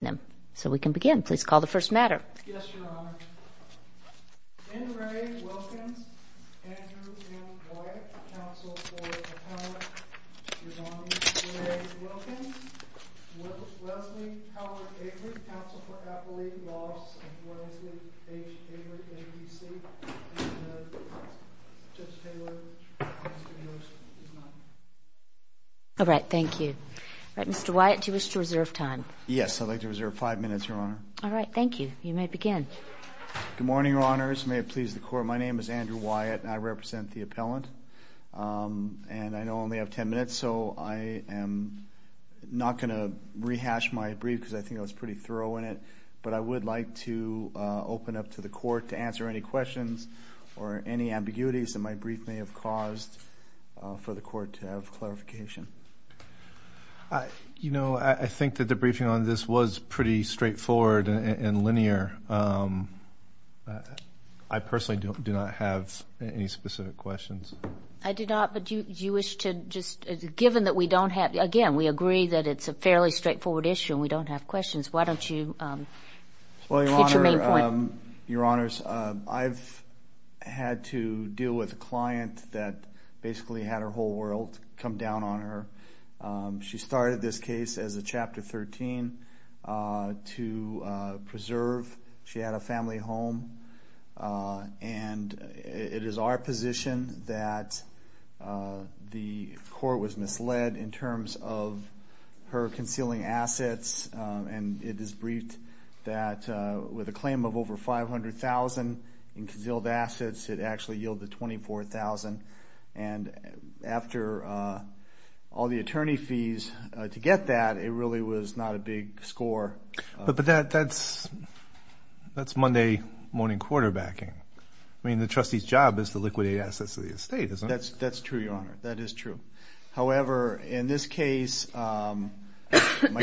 Andrew M. Wyatt, counsel for the appellant, your nominee, N. Ray Wilkins, Leslie Howard Aylward, counsel for Appalachian Laws, and Leslie H. Aylward, M.D.C., and Judge Taylor, Mr. Nielsen. All right. Thank you. All right. Mr. Wyatt, do you wish to reserve time? All right. All right. All right. All right. All right. All right. All right. All right. Mr. Wyatt, do you wish to reserve five minutes, Your Honor? All right. Thank you. You may begin. Good morning, Your Honors. May it please the Court. My name is Andrew Wyatt, and I represent the appellant, and I know I only have ten minutes, so I am not going to rehash my brief because I think I was pretty thorough in it. But I would like to open up to the Court to answer any questions or any ambiguities that my brief may have caused for the Court to have clarification. You know, I think that the briefing on this was pretty straightforward and linear. I personally do not have any specific questions. I do not. But do you wish to just, given that we don't have, again, we agree that it's a fairly straightforward issue and we don't have questions, why don't you get your main point? Well, Your Honor, Your Honors, I've had to deal with a client that basically had her whole world come down on her. She started this case as a Chapter 13 to preserve. She had a family home, and it is our position that the Court was misled in terms of her concealing assets, and it is briefed that with a claim of over $500,000 in concealed and after all the attorney fees to get that, it really was not a big score. But that's Monday morning quarterbacking. I mean, the trustee's job is to liquidate assets of the estate, isn't it? That's true, Your Honor. That is true. However, in this case, my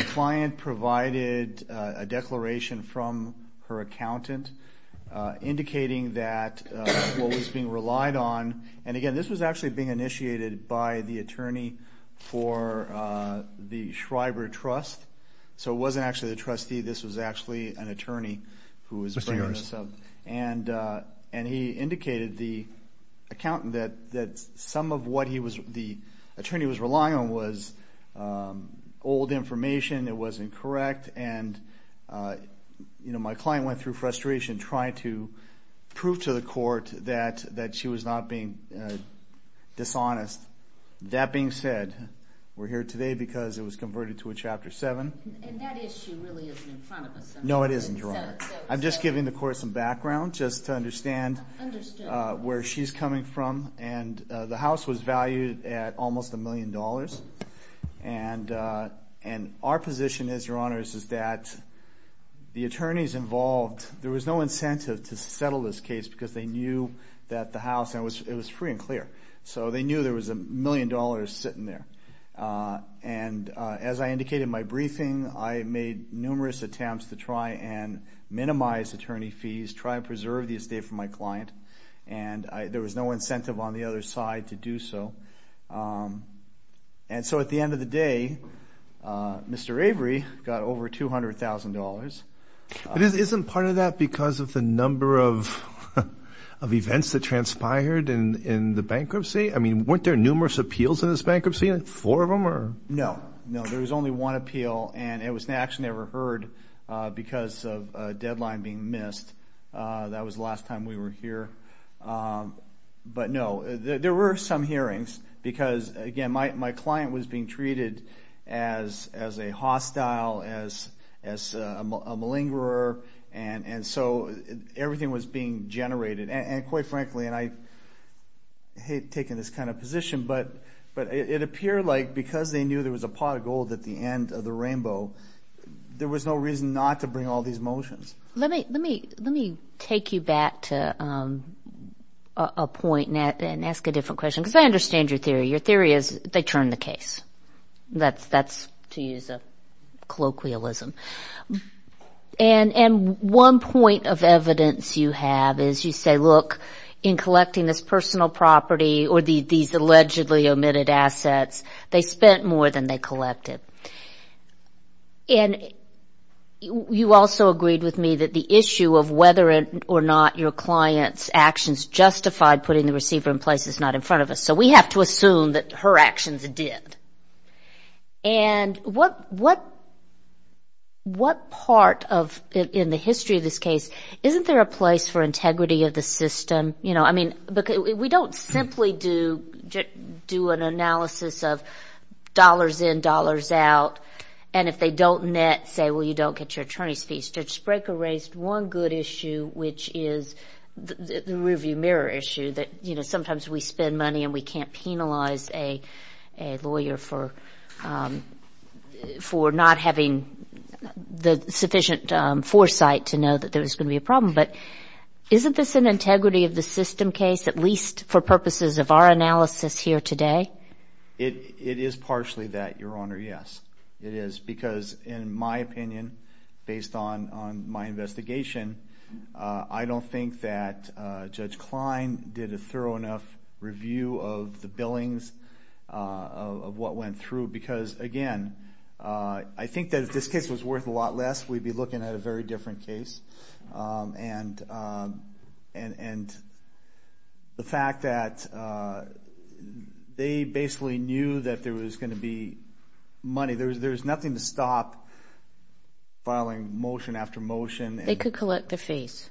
client provided a declaration from her accountant indicating that what was being relied on, and again, this was actually being initiated by the attorney for the Schreiber Trust. So it wasn't actually the trustee. This was actually an attorney who was bringing this up. And he indicated, the accountant, that some of what he was, the attorney was relying on was old information that wasn't correct. And my client went through frustration trying to prove to the Court that she was not being dishonest. That being said, we're here today because it was converted to a Chapter 7. And that issue really isn't in front of us. No, it isn't, Your Honor. I'm just giving the Court some background just to understand where she's coming from. And the house was valued at almost a million dollars. And our position is, Your Honor, is that the attorneys involved, there was no incentive to settle this case because they knew that the house, and it was free and clear. So they knew there was a million dollars sitting there. And as I indicated in my briefing, I made numerous attempts to try and minimize attorney fees, try and preserve the estate from my client. And there was no incentive on the other side to do so. And so at the end of the day, Mr. Avery got over $200,000. But isn't part of that because of the number of events that transpired in the bankruptcy? I mean, weren't there numerous appeals in this bankruptcy, like four of them? No. No, there was only one appeal, and it was an action never heard because of a deadline being missed. That was the last time we were here. But no, there were some hearings because, again, my client was being treated as a hostile, as a malingerer. And so everything was being generated. And quite frankly, and I hate taking this kind of position, but it appeared like because they knew there was a pot of gold at the end of the rainbow, there was no reason not to bring all these motions. Let me take you back to a point and ask a different question because I understand your theory. Your theory is they turned the case. That's, to use a colloquialism. And one point of evidence you have is you say, look, in collecting this personal property or these allegedly omitted assets, they spent more than they collected. And you also agreed with me that the issue of whether or not your client's actions justified putting the receiver in place is not in front of us, so we have to assume that her actions did. And what part of, in the history of this case, isn't there a place for integrity of the system? You know, I mean, we don't simply do an analysis of dollars in, dollars out, and if they don't net, say, well, you don't get your attorney's fees. Judge Spraker raised one good issue, which is the rearview mirror issue, that, you know, sometimes we spend money and we can't penalize a lawyer for not having the sufficient foresight to know that there was going to be a problem. But isn't this an integrity of the system case, at least for purposes of our analysis here today? It is partially that, Your Honor, yes. It is because, in my opinion, based on my investigation, I don't think that Judge Klein did a thorough enough review of the billings of what went through because, again, I think that if this case was worth a lot less, we'd be looking at a very different case. And the fact that they basically knew that there was going to be money, there's nothing to stop filing motion after motion and collecting fees,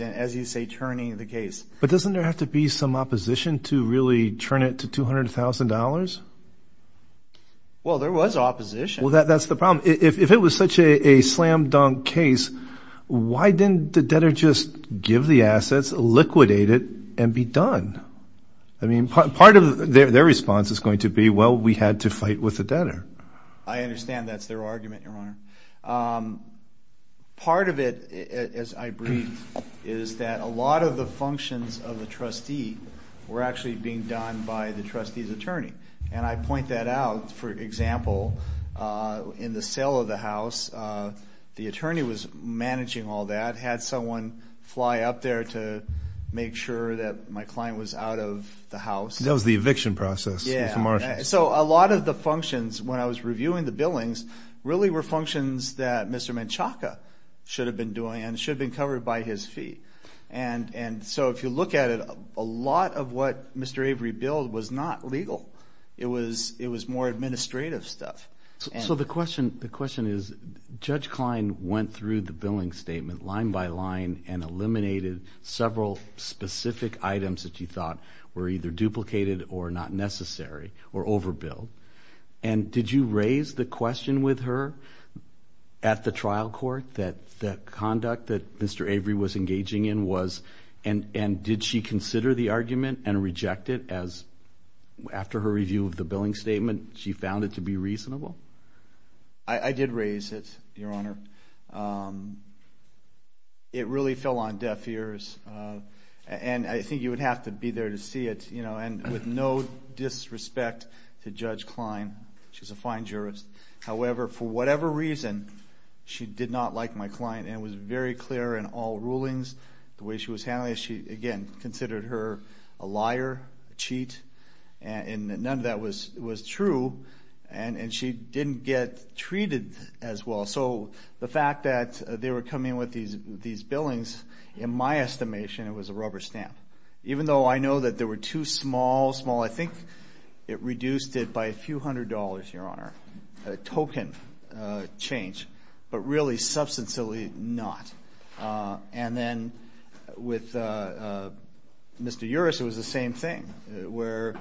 as you say, turning the case. But doesn't there have to be some opposition to really turn it to $200,000? Well, there was opposition. Well, that's the problem. If it was such a slam-dunk case, why didn't the debtor just give the assets, liquidate it, and be done? I mean, part of their response is going to be, well, we had to fight with the debtor. I understand that's their argument, Your Honor. Part of it, as I breathe, is that a lot of the functions of the trustee were actually being done by the trustee's attorney. And I point that out. For example, in the sale of the house, the attorney was managing all that, had someone fly up there to make sure that my client was out of the house. That was the eviction process. Yeah. So a lot of the functions, when I was reviewing the billings, really were functions that Mr. Menchaca should have been doing and should have been covered by his fee. And so if you look at it, a lot of what Mr. Avery billed was not legal. It was more administrative stuff. So the question is, Judge Klein went through the billing statement line by line and eliminated several specific items that you thought were either duplicated or not necessary or overbilled. And did you raise the question with her at the trial court that the conduct that Mr. Avery was engaging in was, and did she consider the argument and reject it as, after her review of the billing statement, she found it to be reasonable? I did raise it, Your Honor. It really fell on deaf ears. And I think you would have to be there to see it. And with no disrespect to Judge Klein, she's a fine jurist. However, for whatever reason, she did not like my client and was very clear in all rulings. The way she was handling it, she, again, considered her a liar, a cheat, and none of that was true. And she didn't get treated as well. So the fact that they were coming with these billings, in my estimation, it was a rubber stamp. Even though I know that there were two small, small, I think it reduced it by a few hundred dollars, Your Honor, a token change, but really, substantially not. And then with Mr. Uris, it was the same thing, where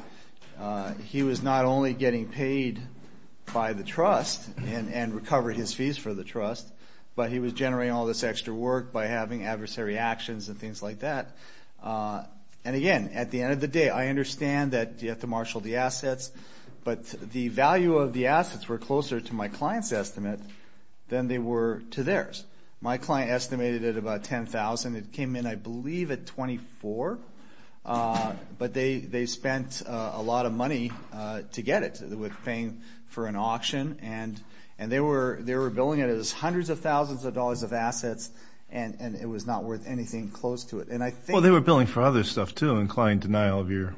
he was not only getting paid by the trust and recovered his fees for the trust, but he was generating all this extra work by having adversary actions and things like that. And, again, at the end of the day, I understand that you have to marshal the assets, but the value of the assets were closer to my client's estimate than they were to theirs. My client estimated it at about $10,000. It came in, I believe, at $24,000, but they spent a lot of money to get it with paying for an auction. And they were billing it as hundreds of thousands of dollars of assets, and it was not worth anything close to it. And I think – Well, they were billing for other stuff, too, including denial of your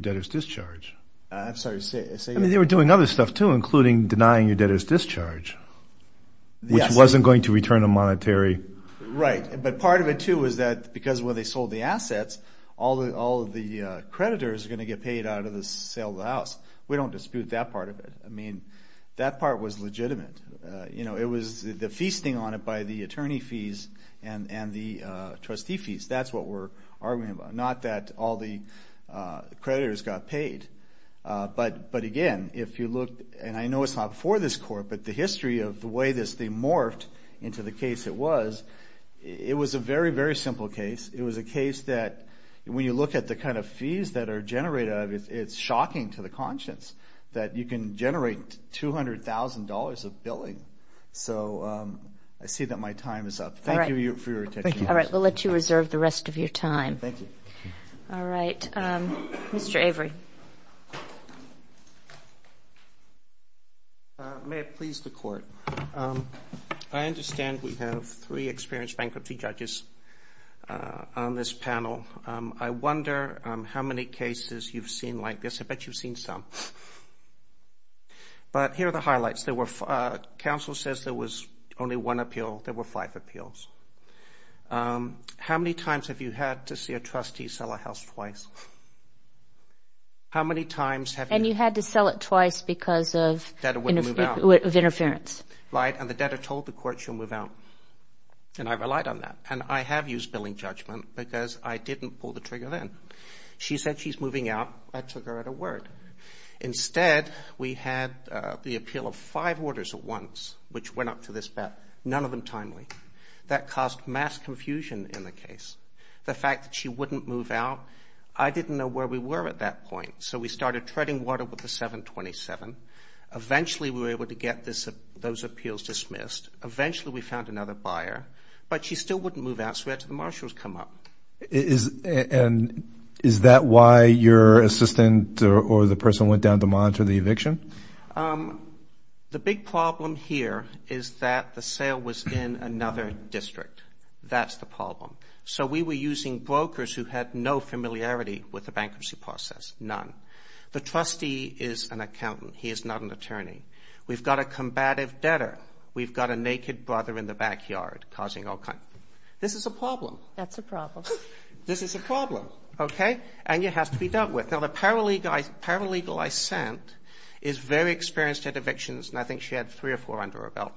debtor's discharge. I'm sorry, say that again. I mean, they were doing other stuff, too, including denying your debtor's discharge, which wasn't going to return a monetary – Right, but part of it, too, was that because when they sold the assets, all of the creditors are going to get paid out of the sale of the house. We don't dispute that part of it. I mean, that part was legitimate. It was the feasting on it by the attorney fees and the trustee fees. That's what we're arguing about, not that all the creditors got paid. But, again, if you look – and I know it's not for this court, but the history of the way this thing morphed into the case it was, it was a very, very simple case. It was a case that when you look at the kind of fees that are generated, it's shocking to the conscience that you can generate $200,000 of billing. So I see that my time is up. Thank you for your attention. All right, we'll let you reserve the rest of your time. Thank you. All right. Mr. Avery. May it please the Court. I understand we have three experienced bankruptcy judges on this panel. I wonder how many cases you've seen like this. I bet you've seen some. But here are the highlights. Counsel says there was only one appeal. There were five appeals. How many times have you had to see a trustee sell a house twice? How many times have you – And you had to sell it twice because of interference. Right, and the debtor told the court she'll move out. And I relied on that. And I have used billing judgment because I didn't pull the trigger then. She said she's moving out. I took her at her word. Instead, we had the appeal of five orders at once which went up to this bet, none of them timely. That caused mass confusion in the case. The fact that she wouldn't move out, I didn't know where we were at that point. So we started treading water with the 727. Eventually, we were able to get those appeals dismissed. Eventually, we found another buyer. But she still wouldn't move out, so we had to have the marshals come up. And is that why your assistant or the person went down to monitor the eviction? The big problem here is that the sale was in another district. That's the problem. So we were using brokers who had no familiarity with the bankruptcy process, none. The trustee is an accountant. He is not an attorney. We've got a combative debtor. We've got a naked brother in the backyard causing all kinds. This is a problem. That's a problem. This is a problem, okay? And it has to be dealt with. The paralegal I sent is very experienced at evictions, and I think she had three or four under her belt.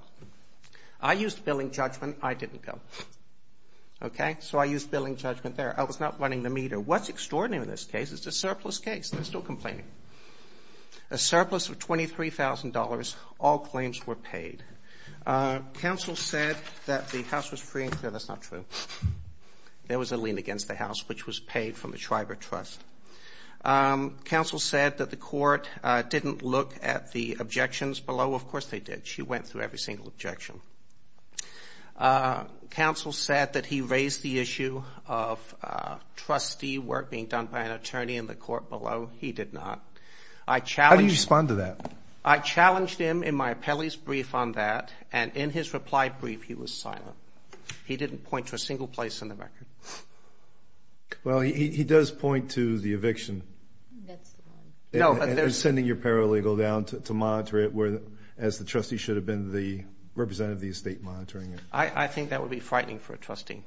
I used billing judgment. I didn't go. Okay? So I used billing judgment there. I was not running the meter. What's extraordinary in this case is it's a surplus case. They're still complaining. A surplus of $23,000. All claims were paid. Counsel said that the house was free. No, that's not true. There was a lien against the house, which was paid from the Shriver Trust. Counsel said that the court didn't look at the objections below. Of course they did. She went through every single objection. Counsel said that he raised the issue of trustee work being done by an attorney in the court below. He did not. How do you respond to that? I challenged him in my appellee's brief on that, and in his reply brief he was silent. He didn't point to a single place in the record. Well, he does point to the eviction. That's the one. No, but there's. And sending your paralegal down to monitor it as the trustee should have been the representative of the estate monitoring it. I think that would be frightening for a trustee.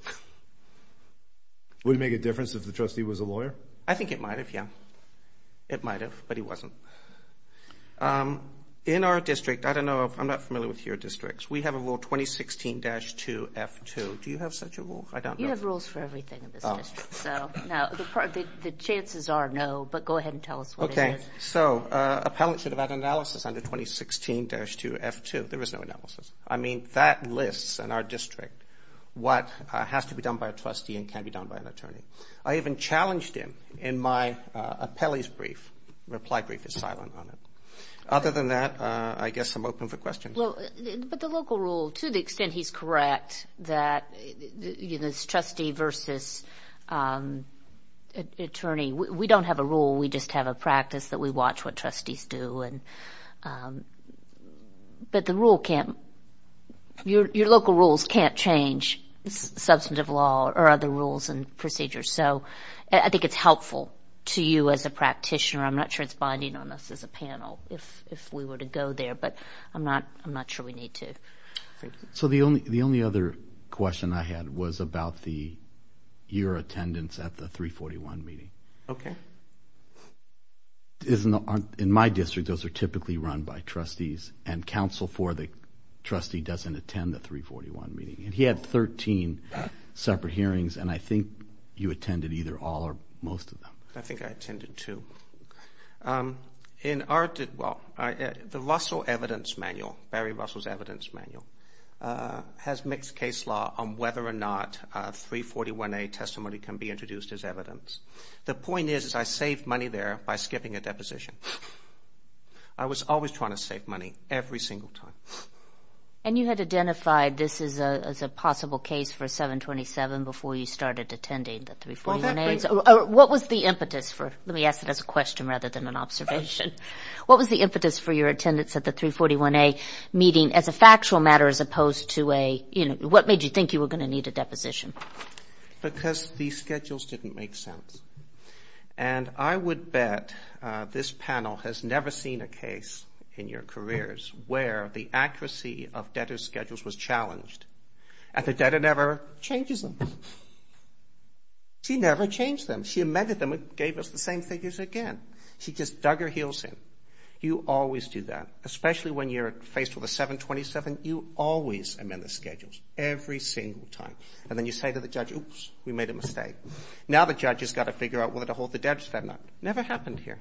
Would it make a difference if the trustee was a lawyer? I think it might have, yeah. It might have, but he wasn't. In our district, I don't know, I'm not familiar with your districts, we have a rule 2016-2F2. Do you have such a rule? I don't know. You have rules for everything in this district. Now, the chances are no, but go ahead and tell us what it is. Okay, so appellants should have had an analysis under 2016-2F2. There was no analysis. I mean, that lists in our district what has to be done by a trustee and can be done by an attorney. I even challenged him in my appellee's brief. Reply brief is silent on it. Other than that, I guess I'm open for questions. But the local rule, to the extent he's correct, that it's trustee versus attorney, we don't have a rule, we just have a practice that we watch what trustees do. But the rule can't, your local rules can't change substantive law or other rules and procedures. So I think it's helpful to you as a practitioner. I'm not sure it's binding on us as a panel if we were to go there, but I'm not sure we need to. So the only other question I had was about the year attendance at the 341 meeting. Okay. In my district, those are typically run by trustees and counsel for the trustee doesn't attend the 341 meeting. He had 13 separate hearings, and I think you attended either all or most of them. I think I attended two. In our, well, the Russell Evidence Manual, Barry Russell's Evidence Manual, has mixed case law on whether or not 341A testimony can be introduced as evidence. The point is I saved money there by skipping a deposition. I was always trying to save money, every single time. And you had identified this as a possible case for 727 before you started attending the 341As? What was the impetus for, let me ask it as a question rather than an observation. What was the impetus for your attendance at the 341A meeting as a factual matter as opposed to a, you know, what made you think you were going to need a deposition? Because the schedules didn't make sense. And I would bet this panel has never seen a case in your careers where the accuracy of debtor's schedules was challenged. And the debtor never changes them. She never changed them. She amended them and gave us the same figures again. She just dug her heels in. You always do that, especially when you're faced with a 727. You always amend the schedules, every single time. And then you say to the judge, oops, we made a mistake. Now the judge has got to figure out whether to hold the debtor's debt or not. Never happened here.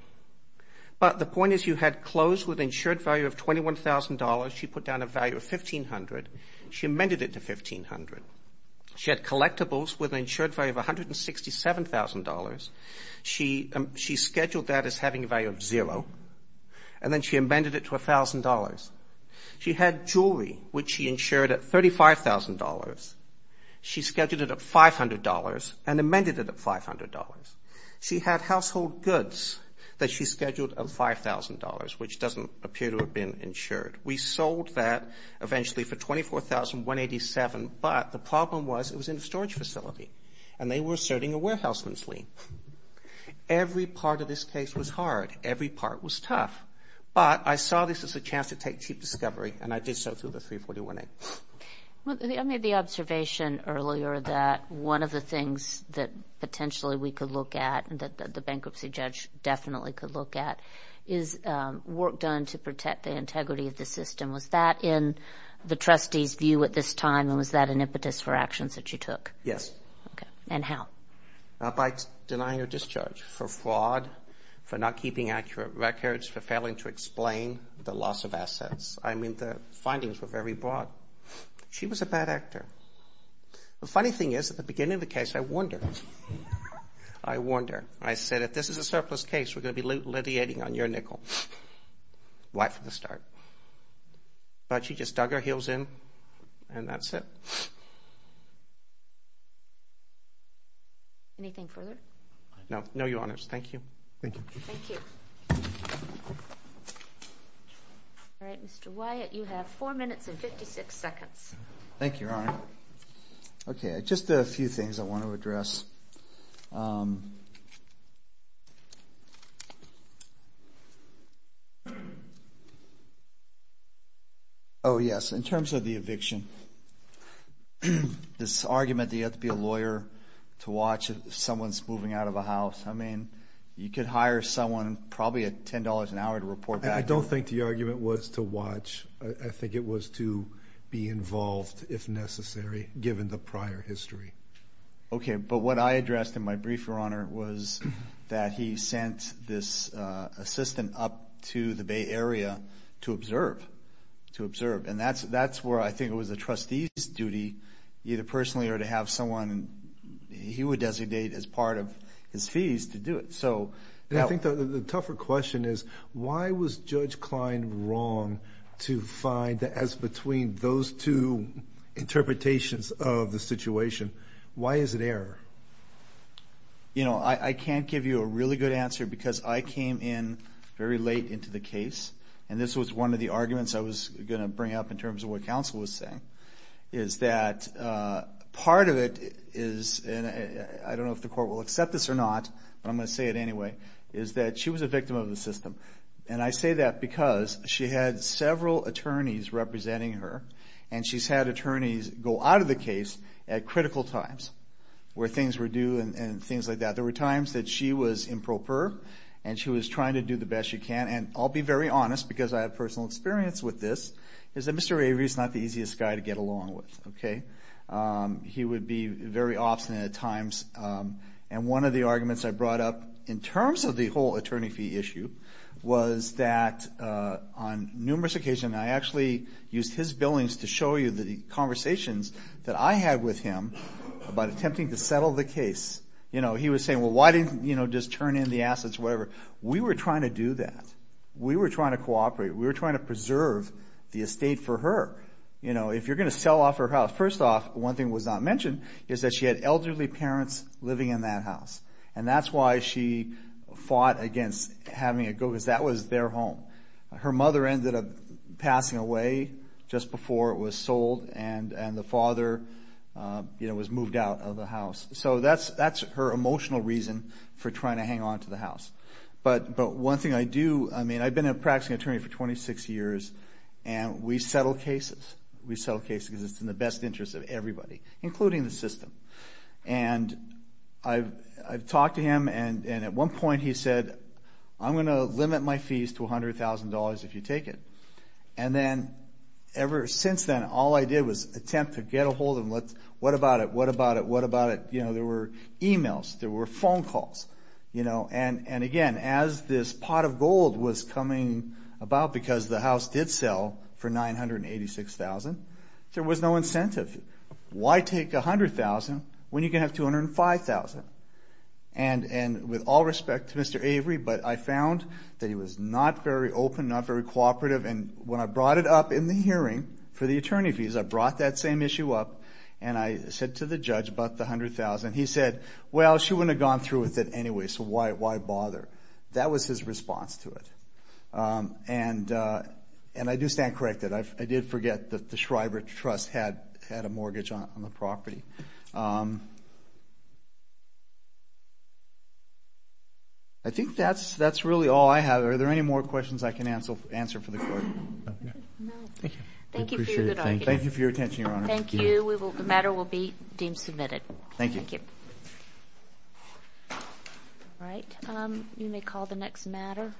But the point is you had closed with an insured value of $21,000. She put down a value of $1,500. She amended it to $1,500. She had collectibles with an insured value of $167,000. She scheduled that as having a value of zero. And then she amended it to $1,000. She had jewelry, which she insured at $35,000. She scheduled it at $500 and amended it at $500. She had household goods that she scheduled at $5,000, which doesn't appear to have been insured. We sold that eventually for $24,187, but the problem was it was in a storage facility, and they were asserting a warehouseman's lien. Every part of this case was hard. Every part was tough. But I saw this as a chance to take cheap discovery, and I did so through the 341A. I made the observation earlier that one of the things that potentially we could look at and that the bankruptcy judge definitely could look at is work done to protect the integrity of the system. Was that in the trustee's view at this time, and was that an impetus for actions that you took? Yes. Okay. And how? By denying her discharge for fraud, for not keeping accurate records, for failing to explain the loss of assets. I mean, the findings were very broad. She was a bad actor. The funny thing is, at the beginning of the case, I warned her. I warned her. I said, if this is a surplus case, we're going to be litigating on your nickel right from the start. But she just dug her heels in, and that's it. Anything further? No, Your Honors. Thank you. Thank you. Thank you. All right, Mr. Wyatt, you have 4 minutes and 56 seconds. Thank you, Your Honor. Okay, just a few things I want to address. Oh, yes, in terms of the eviction. This argument that you have to be a lawyer to watch if someone's moving out of a house. I mean, you could hire someone probably at $10 an hour to report back. I don't think the argument was to watch. I think it was to be involved, if necessary, given the prior history. Okay, but what I addressed in my brief, Your Honor, was that he sent this assistant up to the Bay Area to observe. And that's where I think it was a trustee's duty, either personally or to have someone he would designate as part of his fees to do it. I think the tougher question is, why was Judge Klein wrong to find that as between those two interpretations of the situation, why is it error? You know, I can't give you a really good answer because I came in very late into the case, and this was one of the arguments I was going to bring up in terms of what counsel was saying, is that part of it is, and I don't know if the court will accept this or not, but I'm going to say it anyway, is that she was a victim of the system. And I say that because she had several attorneys representing her, and she's had attorneys go out of the case at critical times where things were due and things like that. There were times that she was improper, and she was trying to do the best she can. And I'll be very honest, because I have personal experience with this, is that Mr. Avery is not the easiest guy to get along with, okay? He would be very obstinate at times. And one of the arguments I brought up in terms of the whole attorney fee issue was that on numerous occasions, I actually used his billings to show you the conversations that I had with him about attempting to settle the case. He was saying, well, why didn't you just turn in the assets or whatever? We were trying to do that. We were trying to cooperate. We were trying to preserve the estate for her. If you're going to sell off her house, first off, one thing was not mentioned, is that she had elderly parents living in that house. And that's why she fought against having it go, because that was their home. Her mother ended up passing away just before it was sold, and the father was moved out of the house. So that's her emotional reason for trying to hang on to the house. But one thing I do, I mean, I've been a practicing attorney for 26 years, and we settle cases. We settle cases because it's in the best interest of everybody, including the system. And I've talked to him, and at one point he said, I'm going to limit my fees to $100,000 if you take it. And then ever since then, all I did was attempt to get a hold of him. What about it? What about it? What about it? There were emails. There were phone calls. And again, as this pot of gold was coming about, because the house did sell for $986,000, there was no incentive. Why take $100,000 when you can have $205,000? And with all respect to Mr. Avery, but I found that he was not very open, not very cooperative. And when I brought it up in the hearing for the attorney fees, I brought that same issue up, and I said to the judge about the $100,000. He said, well, she wouldn't have gone through with it anyway, so why bother? That was his response to it. And I do stand corrected. I did forget that the Schreiber Trust had a mortgage on the property. I think that's really all I have. Are there any more questions I can answer for the court? No. Thank you. Thank you for your good argument. Thank you. The matter will be deemed submitted. Thank you. Thank you. All right. You may call the next matter.